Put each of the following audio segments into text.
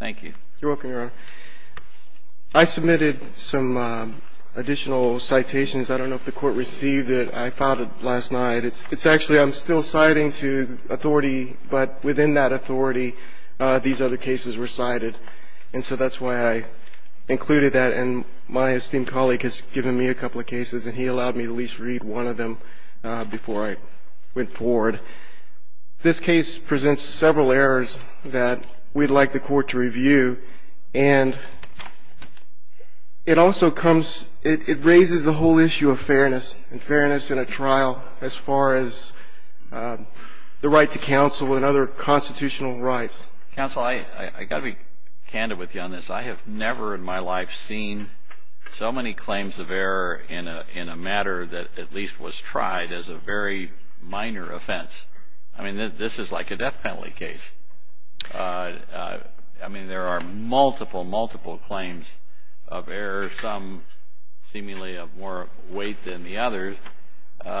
I submitted some additional citations. I don't know if the court received it. I filed it last night. It's actually, I'm still citing to authority, but within that authority, these other cases were cited. And so that's why I included that. And my esteemed colleague has given me a couple of cases, and he allowed me to at least read one of them before I went forward. But this case presents several errors that we'd like the court to review. And it also comes, it raises the whole issue of fairness, and fairness in a trial as far as the right to counsel and other constitutional rights. Counsel, I've got to be candid with you on this. I have never in my life seen so many claims of error in a matter that at least was tried as a very minor offense. I mean, this is like a death penalty case. I mean, there are multiple, multiple claims of error, some seemingly of more weight than the others. And I'm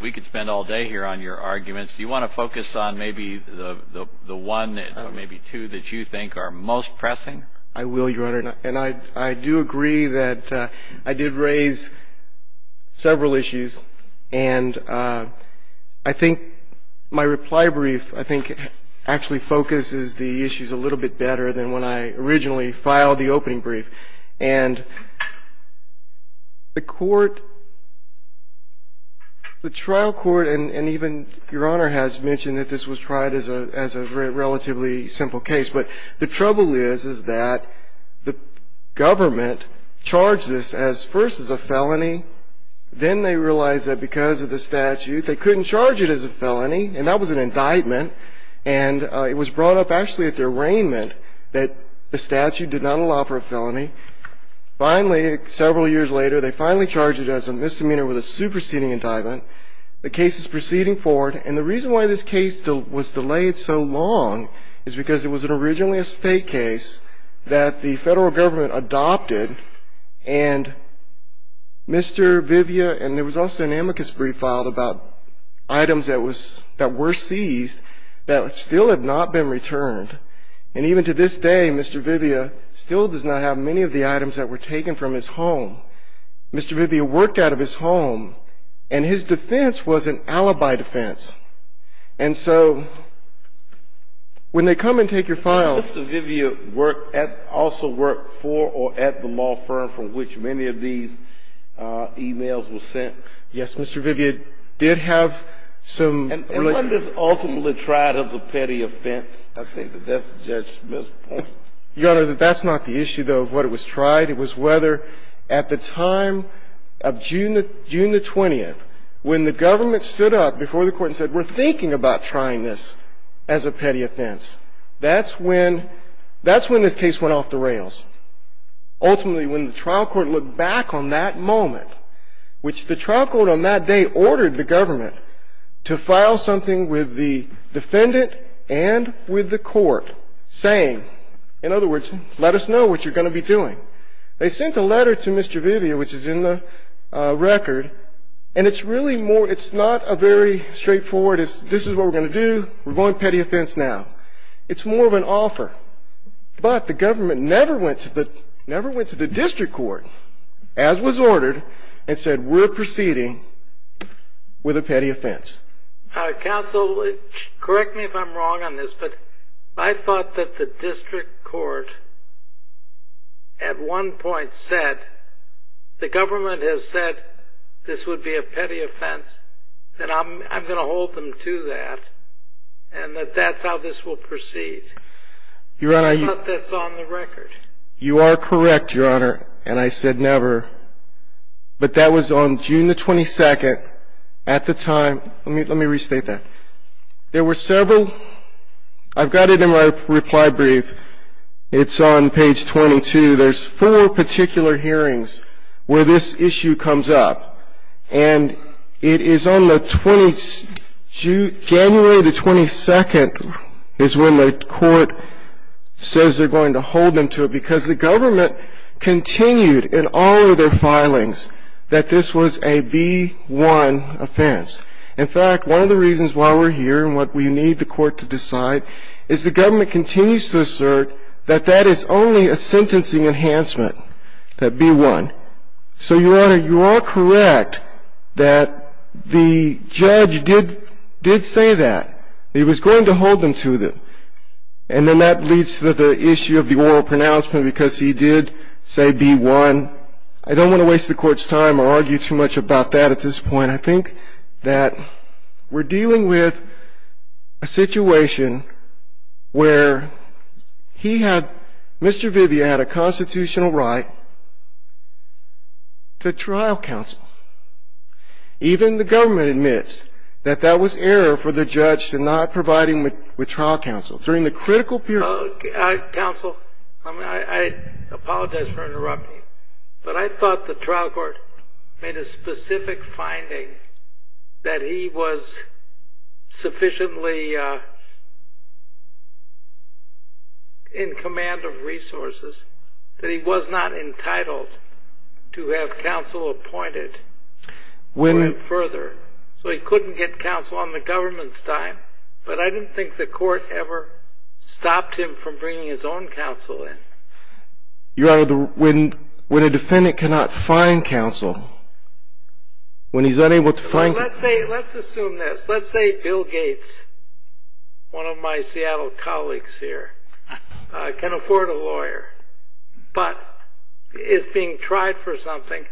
not going to go into all of them. I'm just going to say a couple of them, and then we can spend all day here on your arguments. Do you want to focus on maybe the one, maybe two, that you think are most pressing? I will, Your Honor. And I do agree that I did raise several issues. And I think my reply brief, I think, actually focuses the issues a little bit better than when I originally filed the opening brief. And the court, the trial court, and even Your Honor has mentioned that this was tried as a relatively simple case. But the trouble is, is that the government charged this as first as a felony. Then they realized that because of the statute, they couldn't charge it as a felony. And that was an indictment. And it was brought up actually at the arraignment that the statute did not allow for a felony. Finally, several years later, they finally charged it as a misdemeanor with a superseding indictment. The case is proceeding forward. And the reason why this case was delayed so long is because it was originally a state case that the federal government adopted. And Mr. Vivia, and there was also an amicus brief filed about items that were seized that still have not been returned. And even to this day, Mr. Vivia still does not have many of the items that were taken from his home. Mr. Vivia worked out of his home. And his defense was an alibi defense. And so when they come and take your file... Did Mr. Vivia also work for or at the law firm from which many of these emails were sent? Yes, Mr. Vivia did have some... And wasn't this ultimately tried as a petty offense? I think that that's Judge Smith's point. Your Honor, that's not the issue, though, of what it was tried. It was whether at the time of June the 20th, when the government stood up before the Court and said, we're thinking about trying this as a petty offense, that's when this case went off the rails. Ultimately, when the trial court looked back on that moment, which the trial court on that day ordered the government to file something with the defendant and with the Court saying, in other words, let us know what you're going to be doing. They sent a letter to Mr. Vivia, which is in the record, and it's really more... It's not a very straightforward, this is what we're going to do, we're going petty offense now. It's more of an offer. But the government never went to the district court, as was ordered, and said, we're proceeding with a petty offense. Counsel, correct me if I'm wrong on this, but I thought that the district court at one point said, the government has said this would be a petty offense, and I'm going to hold them to that, and that that's how this will proceed. I thought that's on the record. You are correct, Your Honor, and I said never. But that was on June the 22nd at the time. Let me restate that. There were several... I've got it in my reply brief. It's on page 22. There's four particular hearings where this issue comes up, and it is on January the 22nd is when the court says they're going to hold them to it, because the government continued in all of their filings that this was a B-1 offense. In fact, one of the reasons why we're here, and why we need the court to decide, is the government continues to assert that that is only a sentencing enhancement, that B-1. So, Your Honor, you are correct that the judge did say that. He was going to hold them to it. And then that leads to the issue of the oral pronouncement, because he did say B-1. I don't want to waste the court's time or argue too much about that at this point. I think that we're dealing with a situation where he had... Mr. Vivia had a constitutional right to trial counsel. Even the government admits that that was error for the judge to not provide him with trial counsel. During the critical period... Counsel, I apologize for interrupting, but I thought the trial court made a specific finding that he was sufficiently in command of resources that he was not entitled to have counsel appointed further. So he couldn't get counsel on the government's time, but I didn't think the court ever stopped him from bringing his own counsel in. Your Honor, when a defendant cannot find counsel, when he's unable to find counsel... Let's assume this. Let's say Bill Gates, one of my Seattle colleagues here, can afford a lawyer, but is being tried for something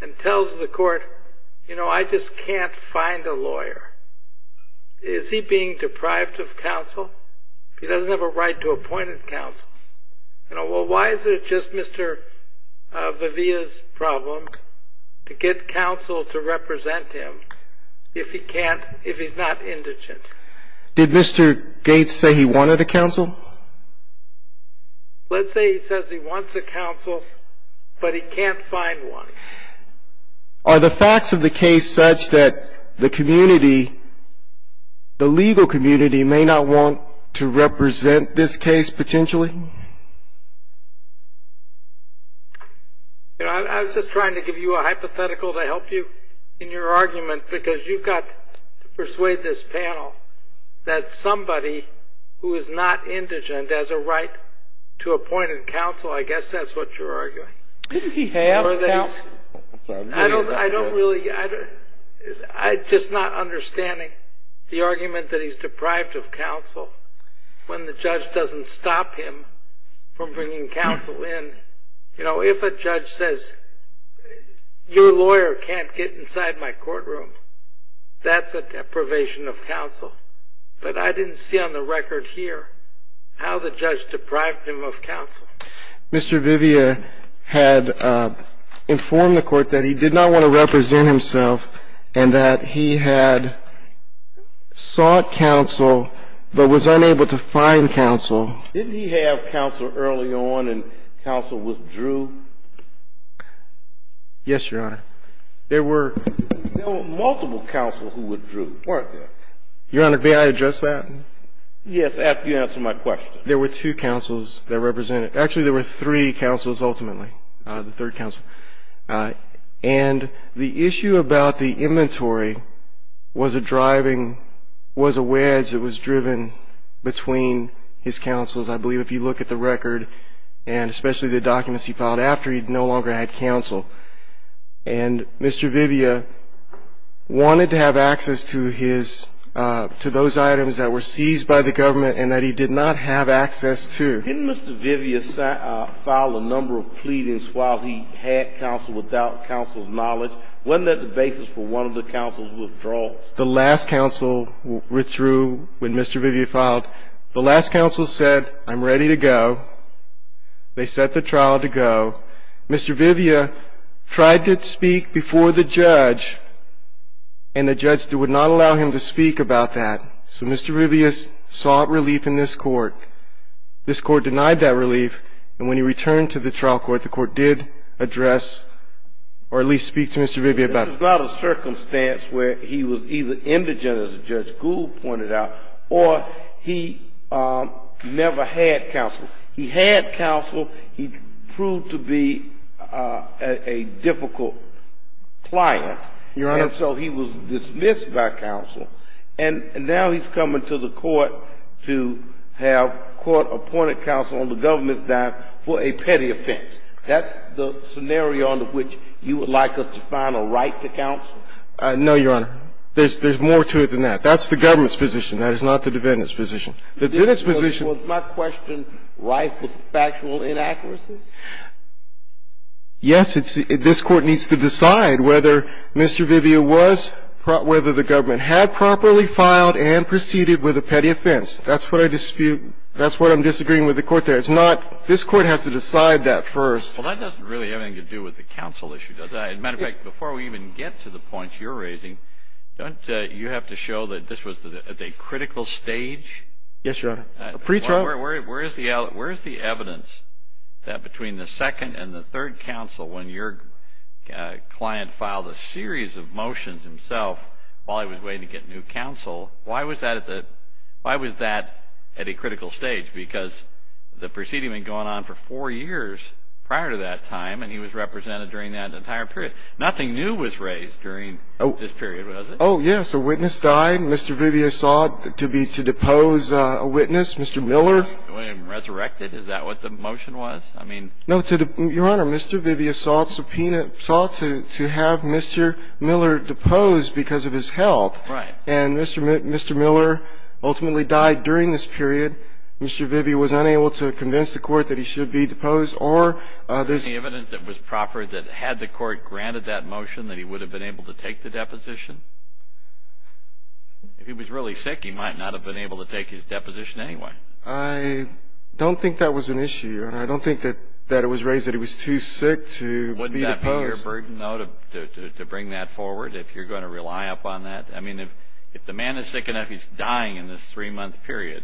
and tells the court, you know, I just can't find a lawyer. Is he being deprived of counsel? He doesn't have a right to appointed counsel. You know, well, why is it just Mr. Vivia's problem to get counsel to represent him if he can't... if he's not indigent? Did Mr. Gates say he wanted a counsel? Let's say he says he wants a counsel, but he can't find one. Are the facts of the case such that the community, the legal community, may not want to represent this case potentially? You know, I was just trying to give you a hypothetical to help you in your argument, because you've got to persuade this panel that somebody who is not indigent has a right to appointed counsel. I guess that's what you're arguing. Didn't he have counsel? I don't really... I'm just not understanding the argument that he's deprived of counsel when the judge doesn't stop him. From bringing counsel in. You know, if a judge says, your lawyer can't get inside my courtroom, that's a deprivation of counsel. But I didn't see on the record here how the judge deprived him of counsel. Mr. Vivia had informed the court that he did not want to represent himself and that he had sought counsel but was unable to find counsel. Didn't he have counsel early on and counsel withdrew? Yes, Your Honor. There were... There were multiple counsels who withdrew, weren't there? Your Honor, may I address that? Yes, after you answer my question. There were two counsels that represented... Actually, there were three counsels ultimately, the third counsel. And the issue about the inventory was a driving... was a wedge that was driven between his counsels. I believe if you look at the record and especially the documents he filed after, he no longer had counsel. And Mr. Vivia wanted to have access to his... to those items that were seized by the government and that he did not have access to. Didn't Mr. Vivia file a number of pleadings while he had counsel without counsel's knowledge? Wasn't that the basis for one of the counsel's withdrawals? The last counsel withdrew when Mr. Vivia filed. The last counsel said, I'm ready to go. They set the trial to go. Mr. Vivia tried to speak before the judge, and the judge would not allow him to speak about that. So Mr. Vivia sought relief in this Court. This Court denied that relief. And when he returned to the trial court, the Court did address or at least speak to Mr. Vivia about it. This is not a circumstance where he was either indigent, as Judge Gould pointed out, or he never had counsel. He had counsel. He proved to be a difficult client. Your Honor... ...court appointed counsel on the government's dime for a petty offense. That's the scenario under which you would like us to find a right to counsel? No, Your Honor. There's more to it than that. That's the government's position. That is not the defendant's position. The defendant's position... Was my question right with factual inaccuracies? Yes, this Court needs to decide whether Mr. Vivia was, whether the government had properly filed and proceeded with a petty offense. That's what I dispute. That's what I'm disagreeing with the Court there. It's not this Court has to decide that first. Well, that doesn't really have anything to do with the counsel issue, does it? As a matter of fact, before we even get to the points you're raising, don't you have to show that this was at a critical stage? Yes, Your Honor. Pre-trial... Where is the evidence that between the second and the third counsel, when your client filed a series of motions himself, while he was waiting to get new counsel, why was that at a critical stage? Because the proceeding had been going on for four years prior to that time, and he was represented during that entire period. Nothing new was raised during this period, was it? Oh, yes. A witness died. Mr. Vivia sought to depose a witness, Mr. Miller. Resurrected. Is that what the motion was? No, Your Honor. Mr. Vivia sought to have Mr. Miller deposed because of his health. Right. And Mr. Miller ultimately died during this period. Mr. Vivia was unable to convince the Court that he should be deposed. Is there any evidence that was proper that had the Court granted that motion that he would have been able to take the deposition? If he was really sick, he might not have been able to take his deposition anyway. I don't think that was an issue, and I don't think that it was raised that he was too sick to be deposed. Wouldn't that be your burden, though, to bring that forward, if you're going to rely upon that? I mean, if the man is sick enough, he's dying in this three-month period,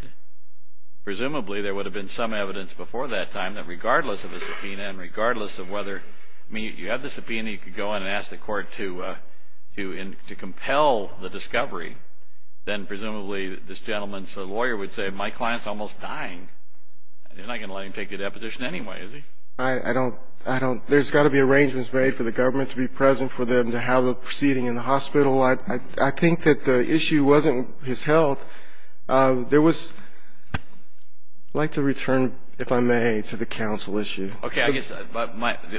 presumably there would have been some evidence before that time that regardless of the subpoena and regardless of whether you have the subpoena, you could go in and ask the Court to compel the discovery, then presumably this gentleman's lawyer would say, my client's almost dying, and you're not going to let him take the deposition anyway, is he? I don't – there's got to be arrangements made for the government to be present for them to have the proceeding in the hospital. I think that the issue wasn't his health. There was – I'd like to return, if I may, to the counsel issue. Okay.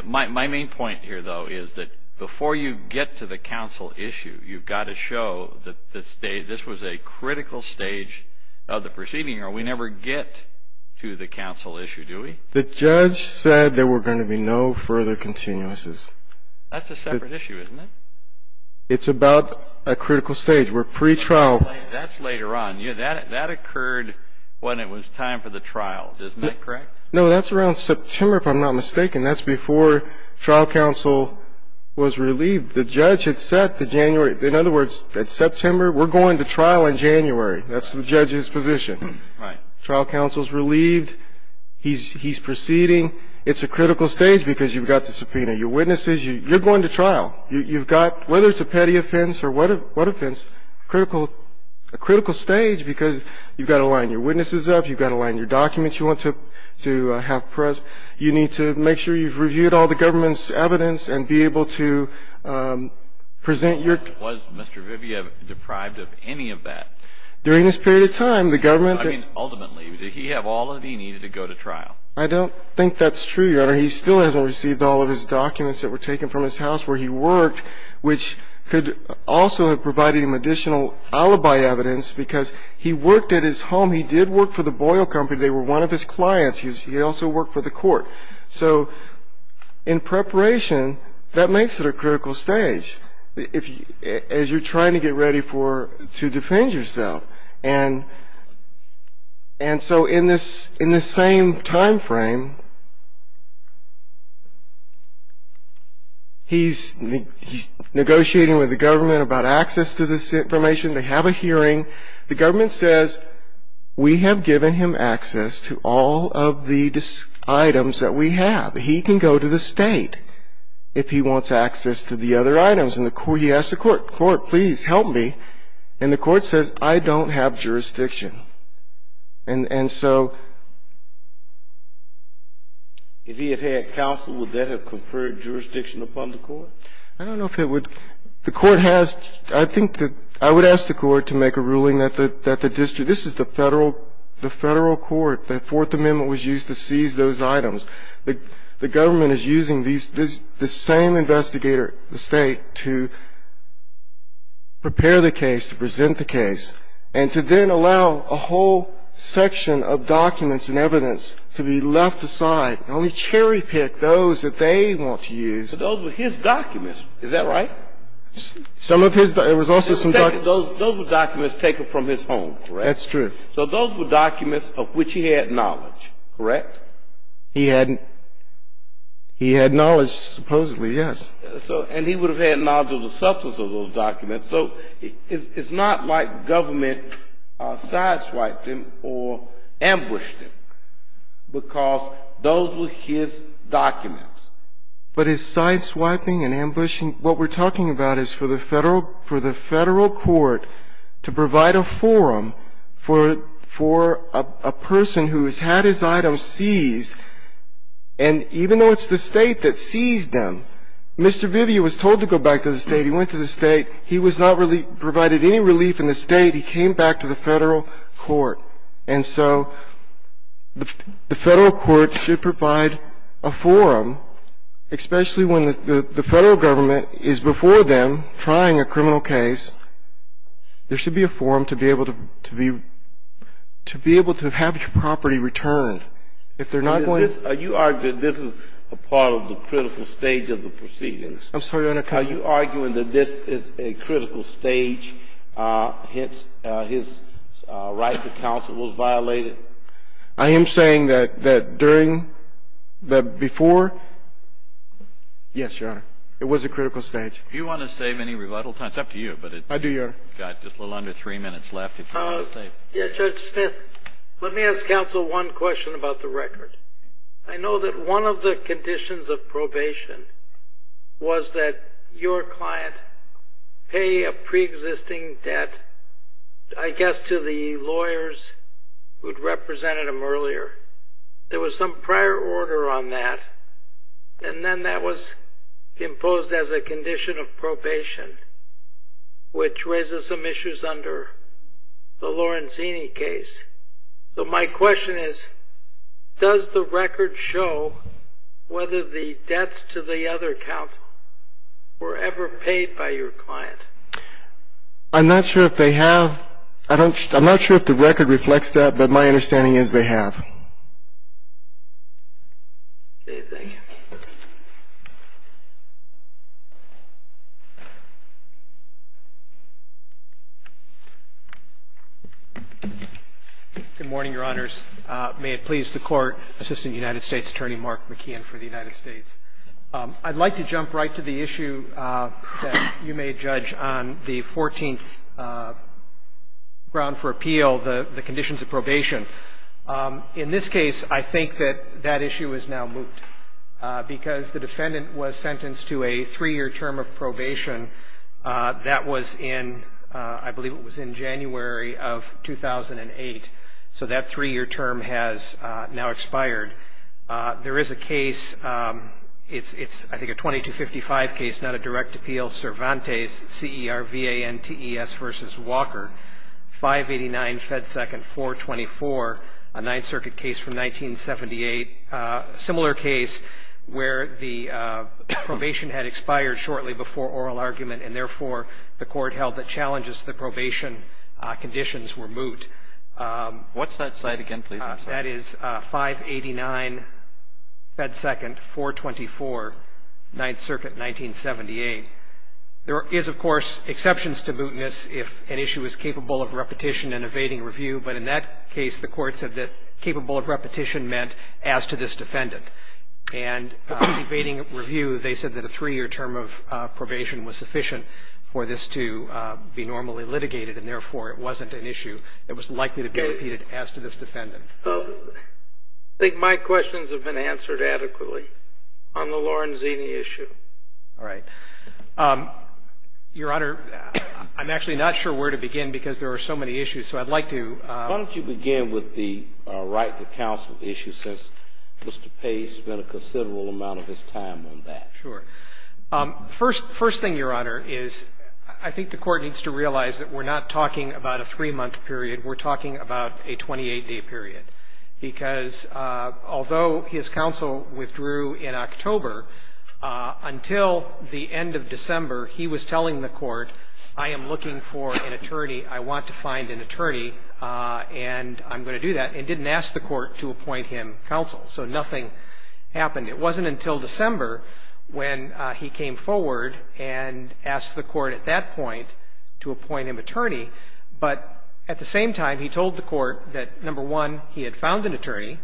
My main point here, though, is that before you get to the counsel issue, you've got to show that this was a critical stage of the proceeding, or we never get to the counsel issue, do we? The judge said there were going to be no further continuances. That's a separate issue, isn't it? It's about a critical stage. We're pre-trial. That's later on. That occurred when it was time for the trial, isn't that correct? No, that's around September, if I'm not mistaken. That's before trial counsel was relieved. The judge had set the January – in other words, that September, we're going to trial in January. That's the judge's position. Right. Trial counsel's relieved. He's proceeding. It's a critical stage because you've got to subpoena your witnesses. You're going to trial. You've got – whether it's a petty offense or what offense, a critical stage because you've got to line your witnesses up, you've got to line your documents you want to have present. You need to make sure you've reviewed all the government's evidence and be able to present your – Was Mr. Viviev deprived of any of that? During this period of time, the government – I mean, ultimately, did he have all that he needed to go to trial? I don't think that's true, Your Honor. He still hasn't received all of his documents that were taken from his house where he worked, which could also have provided him additional alibi evidence because he worked at his home. He did work for the Boyle Company. They were one of his clients. He also worked for the court. So in preparation, that makes it a critical stage as you're trying to get ready to defend yourself. And so in this same timeframe, he's negotiating with the government about access to this information. They have a hearing. The government says, we have given him access to all of the items that we have. He can go to the state if he wants access to the other items. And he asks the court, court, please help me. And the court says, I don't have jurisdiction. And so – If he had had counsel, would that have conferred jurisdiction upon the court? I don't know if it would. I would ask the court to make a ruling that the district – this is the Federal Court. The Fourth Amendment was used to seize those items. The government is using the same investigator, the State, to prepare the case, to present the case, and to then allow a whole section of documents and evidence to be left aside and only cherry-pick those that they want to use. But those were his documents. Is that right? Some of his – there was also some – Those were documents taken from his home, correct? That's true. So those were documents of which he had knowledge, correct? He had knowledge, supposedly, yes. And he would have had knowledge of the substance of those documents. So it's not like government sideswiped him or ambushed him, because those were his documents. But his sideswiping and ambushing – what we're talking about is for the Federal Court to provide a forum for a person who has had his items seized, and even though it's the State that seized them, Mr. Vivio was told to go back to the State. He went to the State. He was not provided any relief in the State. He came back to the Federal Court. And so the Federal Court should provide a forum, especially when the Federal Government is before them trying a criminal case. There should be a forum to be able to have your property returned. If they're not going to – You argue that this is a part of the critical stage of the proceedings. I'm sorry, Your Honor. Are you arguing that this is a critical stage, hence his right to counsel was violated? I am saying that during the – before – yes, Your Honor. It was a critical stage. Do you want to save any rebuttal time? It's up to you. I do, Your Honor. We've got just a little under three minutes left. Judge Smith, let me ask counsel one question about the record. I know that one of the conditions of probation was that your client pay a preexisting debt, I guess to the lawyers who'd represented him earlier. There was some prior order on that, and then that was imposed as a condition of probation, which raises some issues under the Lorenzini case. So my question is, does the record show whether the debts to the other counsel were ever paid by your client? I'm not sure if they have. I'm not sure if the record reflects that, but my understanding is they have. Okay. Thank you. Good morning, Your Honors. May it please the Court, Assistant United States Attorney Mark McKeon for the United States. I'd like to jump right to the issue that you may judge on the 14th, Ground for Appeal, the conditions of probation. In this case, I think that that issue is now moot, because the defendant was sentenced to a three-year term of probation that was in, I believe it was in January of 2008. So that three-year term has now expired. There is a case, it's I think a 2255 case, not a direct appeal, Cervantes, C-E-R-V-A-N-T-E-S v. Walker, 589 Fed Second 424, a Ninth Circuit case from 1978, a similar case where the probation had expired shortly before oral argument, and therefore the court held the challenges to the probation conditions were moot. What's that cite again, please? That is 589 Fed Second 424, Ninth Circuit, 1978. There is, of course, exceptions to mootness if an issue is capable of repetition and evading review, but in that case the court said that capable of repetition meant as to this defendant. And evading review, they said that a three-year term of probation was sufficient for this to be normally litigated, and therefore it wasn't an issue that was likely to be repeated as to this defendant. I think my questions have been answered adequately on the Lorenzini issue. All right. Your Honor, I'm actually not sure where to begin because there are so many issues. So I'd like to ---- Why don't you begin with the right to counsel issue since Mr. Page spent a considerable amount of his time on that. Sure. First thing, Your Honor, is I think the court needs to realize that we're not talking about a three-month period. We're talking about a 28-day period, because although his counsel withdrew in October, until the end of December, he was telling the court, I am looking for an attorney, I want to find an attorney, and I'm going to do that, and didn't ask the court to appoint him counsel. So nothing happened. It wasn't until December when he came forward and asked the court at that point to appoint him attorney, but at the same time, he told the court that, number one, he had found an attorney,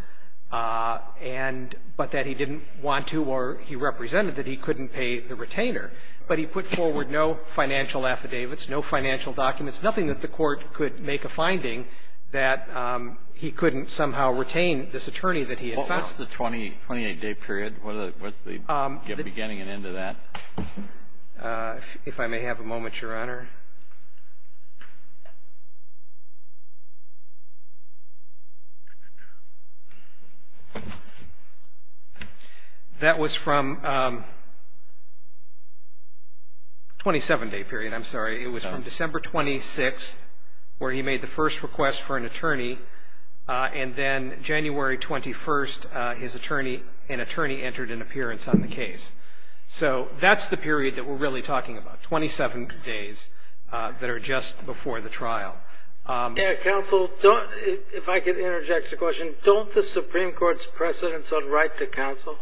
and but that he didn't want to or he represented that he couldn't pay the retainer, but he put forward no financial affidavits, no financial documents, nothing that the court could make a finding that he couldn't somehow retain this attorney that he had found. What was the 28-day period? What's the beginning and end of that? If I may have a moment, Your Honor. That was from 27-day period. I'm sorry. It was from December 26th, where he made the first request for an attorney, and then January 21st, his attorney, an attorney entered an appearance on the case. So that's the period that we're really talking about, 27 days that are just before the trial. Counsel, if I could interject a question, don't the Supreme Court's precedence on right to counsel,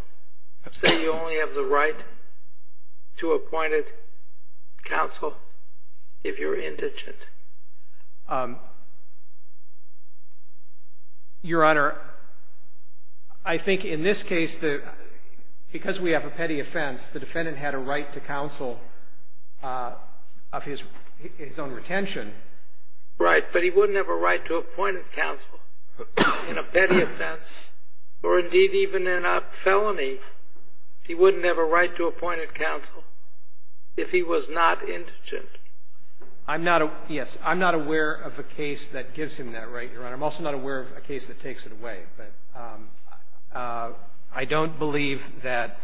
say you only have the right to appointed counsel if you're indigent? Your Honor, I think in this case, because we have a petty offense, the defendant had a right to counsel of his own retention. Right, but he wouldn't have a right to appointed counsel in a petty offense, or indeed even in a felony. He wouldn't have a right to appointed counsel if he was not indigent. Yes, I'm not aware of a case that gives him that right, Your Honor. I'm also not aware of a case that takes it away. But I don't believe that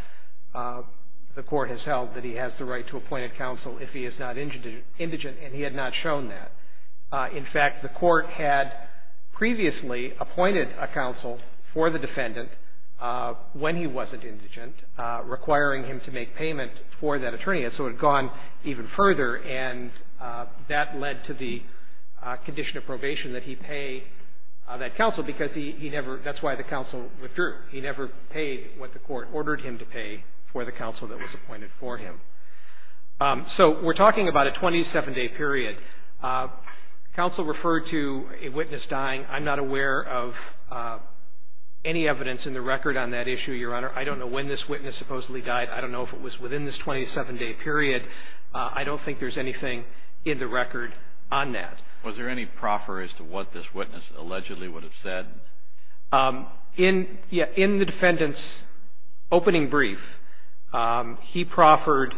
the court has held that he has the right to appointed counsel if he is not indigent, and he had not shown that. In fact, the court had previously appointed a counsel for the defendant when he wasn't indigent, requiring him to make payment for that attorney, and so it had gone even further, and that led to the condition of probation that he pay that counsel because he never, that's why the counsel withdrew. He never paid what the court ordered him to pay for the counsel that was appointed for him. So we're talking about a 27-day period. Counsel referred to a witness dying. I'm not aware of any evidence in the record on that issue, Your Honor. I don't know when this witness supposedly died. I don't know if it was within this 27-day period. I don't think there's anything in the record on that. Was there any proffer as to what this witness allegedly would have said? In the defendant's opening brief, he proffered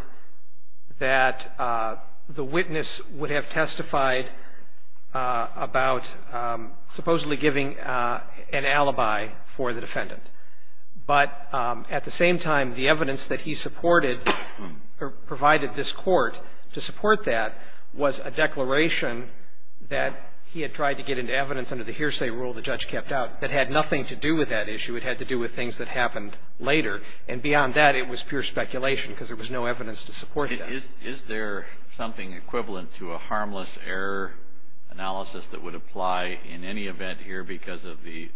that the witness would have testified about supposedly giving an alibi for the defendant. But at the same time, the evidence that he supported or provided this court to support that was a declaration that he had tried to get into evidence under the hearsay rule the judge kept out that had nothing to do with that issue. It had to do with things that happened later. And beyond that, it was pure speculation because there was no evidence to support that. Is there something equivalent to a harmless error analysis that would apply in any event here because of the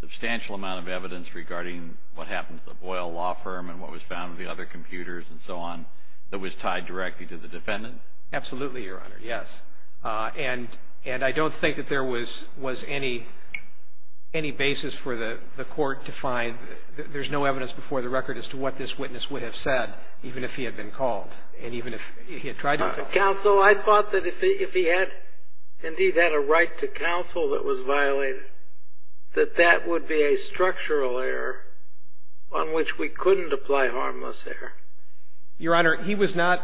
substantial amount of evidence regarding what happened to the Boyle Law Firm and what was found in the other computers and so on that was tied directly to the defendant? Absolutely, Your Honor. Yes. And I don't think that there was any basis for the court to find. There's no evidence before the record as to what this witness would have said even if he had been called and even if he had tried to call. Counsel, I thought that if he had indeed had a right to counsel that was violated, that that would be a structural error on which we couldn't apply harmless error. Your Honor, he was not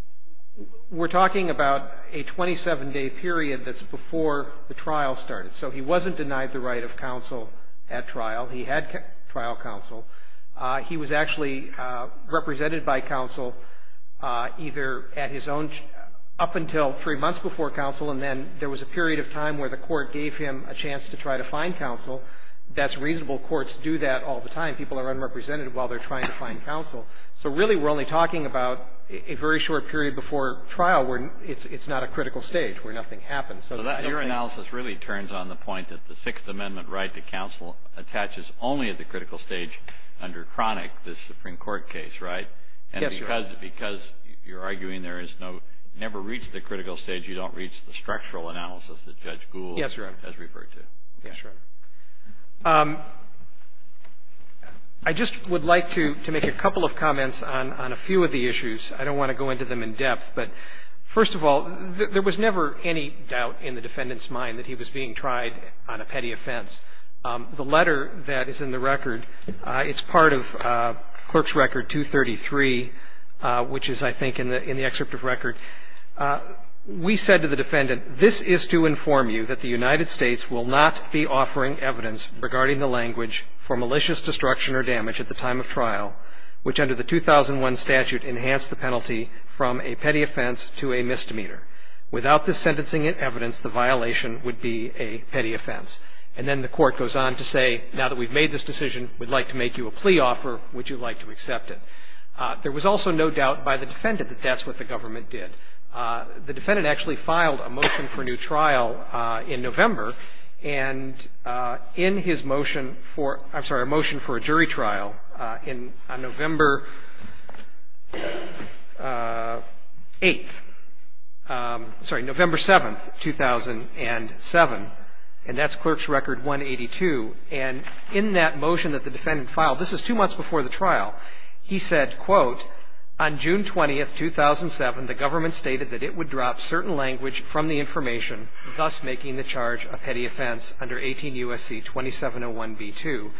– we're talking about a 27-day period that's before the trial started. So he wasn't denied the right of counsel at trial. He had trial counsel. He was actually represented by counsel either at his own – up until three months before counsel and then there was a period of time where the court gave him a chance to try to find counsel. That's reasonable. Courts do that all the time. People are unrepresentative while they're trying to find counsel. So really we're only talking about a very short period before trial where it's not a critical stage, where nothing happens. So your analysis really turns on the point that the Sixth Amendment right to counsel attaches only at the critical stage under Cronic, this Supreme Court case, right? Yes, Your Honor. And because you're arguing there is no – never reached the critical stage, you don't reach the structural analysis that Judge Gould has referred to. Yes, Your Honor. Okay. Yes, Your Honor. I just would like to make a couple of comments on a few of the issues. I don't want to go into them in depth. But first of all, there was never any doubt in the defendant's mind that he was being tried on a petty offense. The letter that is in the record, it's part of Clerk's Record 233, which is I think in the excerpt of record. And then the court goes on to say, now that we've made this decision, we'd like to make you a plea offer. Would you like to accept it? There was also no doubt by the defendant that that's what the government did. And in his motion for – I'm sorry, a motion for a jury trial on November 8th – sorry, November 7th, 2007, and that's Clerk's Record 182. And in that motion that the defendant filed, this is two months before the trial, he said, quote, on June 20th, 2007, the government stated that it would drop certain language from the information, thus making the charge a petty offense under 18 U.S.C. 2701b2.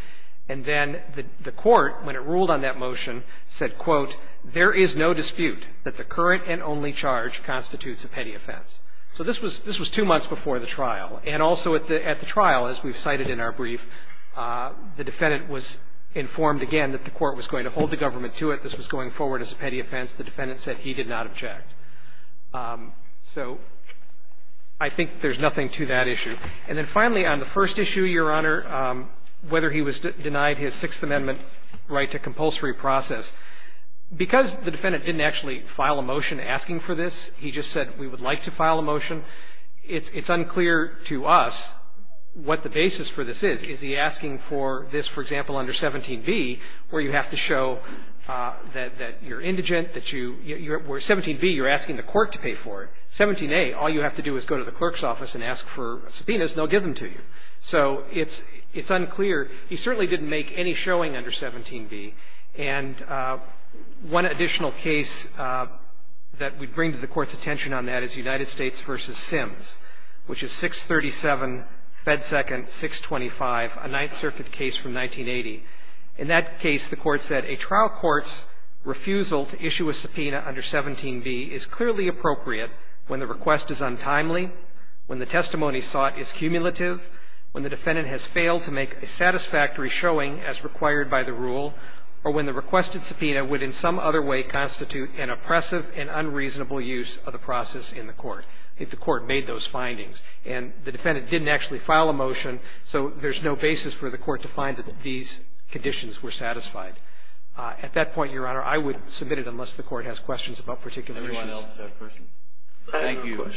And then the court, when it ruled on that motion, said, quote, there is no dispute that the current and only charge constitutes a petty offense. So this was two months before the trial. And also at the trial, as we've cited in our brief, the defendant was informed again that the court was going to hold the government to it, this was going forward as a petty offense. The defendant said he did not object. So I think there's nothing to that issue. And then finally, on the first issue, Your Honor, whether he was denied his Sixth Amendment right to compulsory process, because the defendant didn't actually file a motion asking for this, he just said we would like to file a motion, it's unclear to us what the basis for this is. Is he asking for this, for example, under 17b, where you have to show that you're indigent, that you're 17b, you're asking the court to pay for it. 17a, all you have to do is go to the clerk's office and ask for subpoenas, and they'll give them to you. So it's unclear. He certainly didn't make any showing under 17b. And one additional case that we'd bring to the Court's attention on that is United States v. Sims, which is 637 Fed Second 625, a Ninth Circuit case from 1980. In that case, the Court said a trial court's refusal to issue a subpoena under 17b is clearly appropriate when the request is untimely, when the testimony sought is cumulative, when the defendant has failed to make a satisfactory showing as required by the rule, or when the requested subpoena would in some other way constitute an oppressive and unreasonable use of the process in the court. I think the Court made those findings. And the defendant didn't actually file a motion, so there's no basis for the Court to find that these conditions were satisfied. At that point, Your Honor, I would submit it unless the Court has questions about particular issues. Thank you.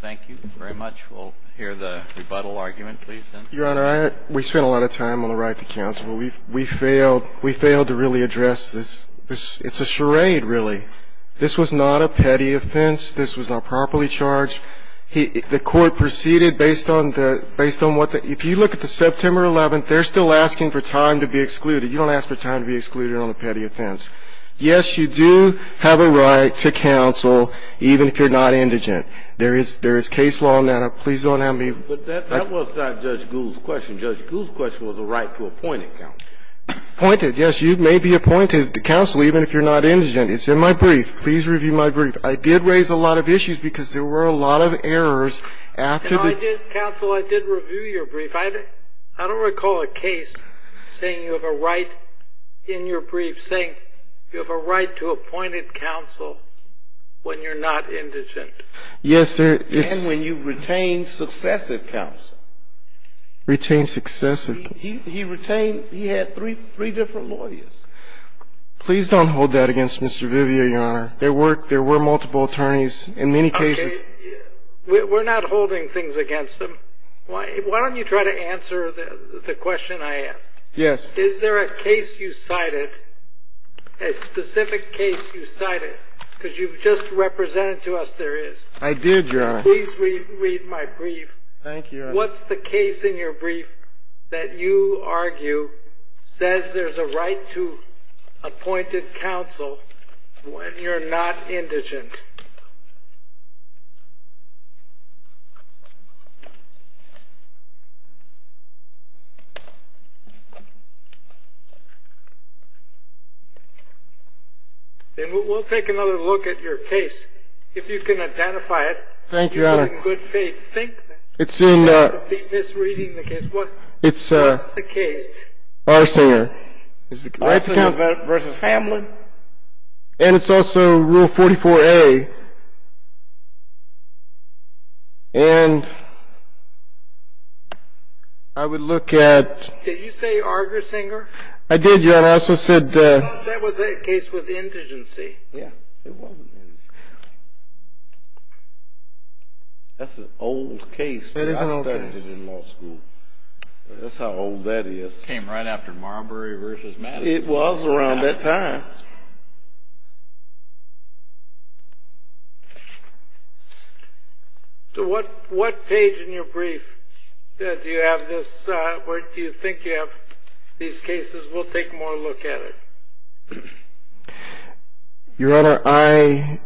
Thank you very much. We'll hear the rebuttal argument, please, then. Your Honor, we spent a lot of time on the right to counsel. We failed to really address this. It's a charade, really. This was not a petty offense. This was not properly charged. The Court proceeded based on what the – if you look at the September 11th, they're still asking for time to be excluded. You don't ask for time to be excluded on a petty offense. Yes, you do have a right to counsel, even if you're not indigent. There is case law on that. Please don't have me – But that was not Judge Gould's question. Judge Gould's question was a right to appointed counsel. Appointed, yes. You may be appointed to counsel, even if you're not indigent. It's in my brief. Please review my brief. I did raise a lot of issues because there were a lot of errors after the – No, I did – counsel, I did review your brief. I don't recall a case saying you have a right in your brief saying you have a right to appointed counsel when you're not indigent. Yes, there – And when you've retained successive counsel. Retained successive. He retained – he had three different lawyers. Please don't hold that against Mr. Vivier, Your Honor. There were – there were multiple attorneys. In many cases – Okay. We're not holding things against them. Why don't you try to answer the question I asked? Yes. Is there a case you cited, a specific case you cited, because you've just represented to us there is. I did, Your Honor. Please read my brief. Thank you, Your Honor. What's the case in your brief that you argue says there's a right to appointed counsel when you're not indigent? We'll take another look at your case. If you can identify it. Thank you, Your Honor. It's in – I'm misreading the case. What's the case? Arsinger. Arsinger v. Hamlin. And it's also Rule 44A. And I would look at – Did you say Argersinger? I did, Your Honor. I also said – That was a case with indigency. Indigency? Yeah. It wasn't indigency. That's an old case. That is an old case. I studied it in law school. That's how old that is. It came right after Marbury v. Madison. It was around that time. So what page in your brief do you have this – where do you think you have these cases? We'll take more look at it. Your Honor, I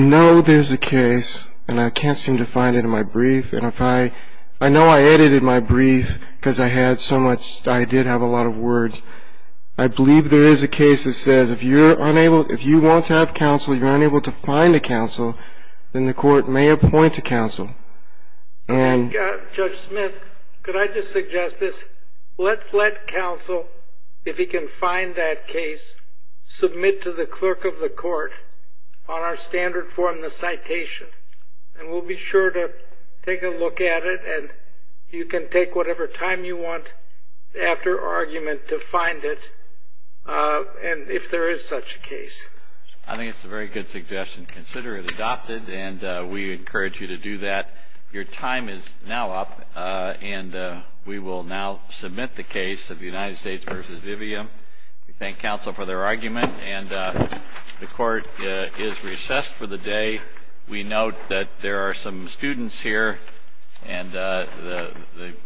know there's a case, and I can't seem to find it in my brief. And if I – I know I edited my brief because I had so much – I did have a lot of words. I believe there is a case that says if you're unable – if you want to have counsel, you're unable to find a counsel, then the court may appoint a counsel. And – Judge Smith, could I just suggest this? Let's let counsel, if he can find that case, submit to the clerk of the court on our standard form the citation. And we'll be sure to take a look at it, and you can take whatever time you want after argument to find it, and if there is such a case. I think it's a very good suggestion. Consider it adopted, and we encourage you to do that. Your time is now up, and we will now submit the case of the United States v. Vivium. We thank counsel for their argument, and the court is recessed for the day. We note that there are some students here, and the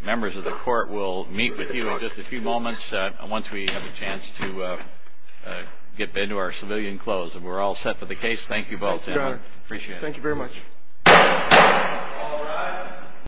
members of the court will meet with you in just a few moments once we have a chance to get into our civilian clothes. And we're all set for the case. Thank you both. Thank you, Your Honor. Appreciate it. Thank you very much. All rise.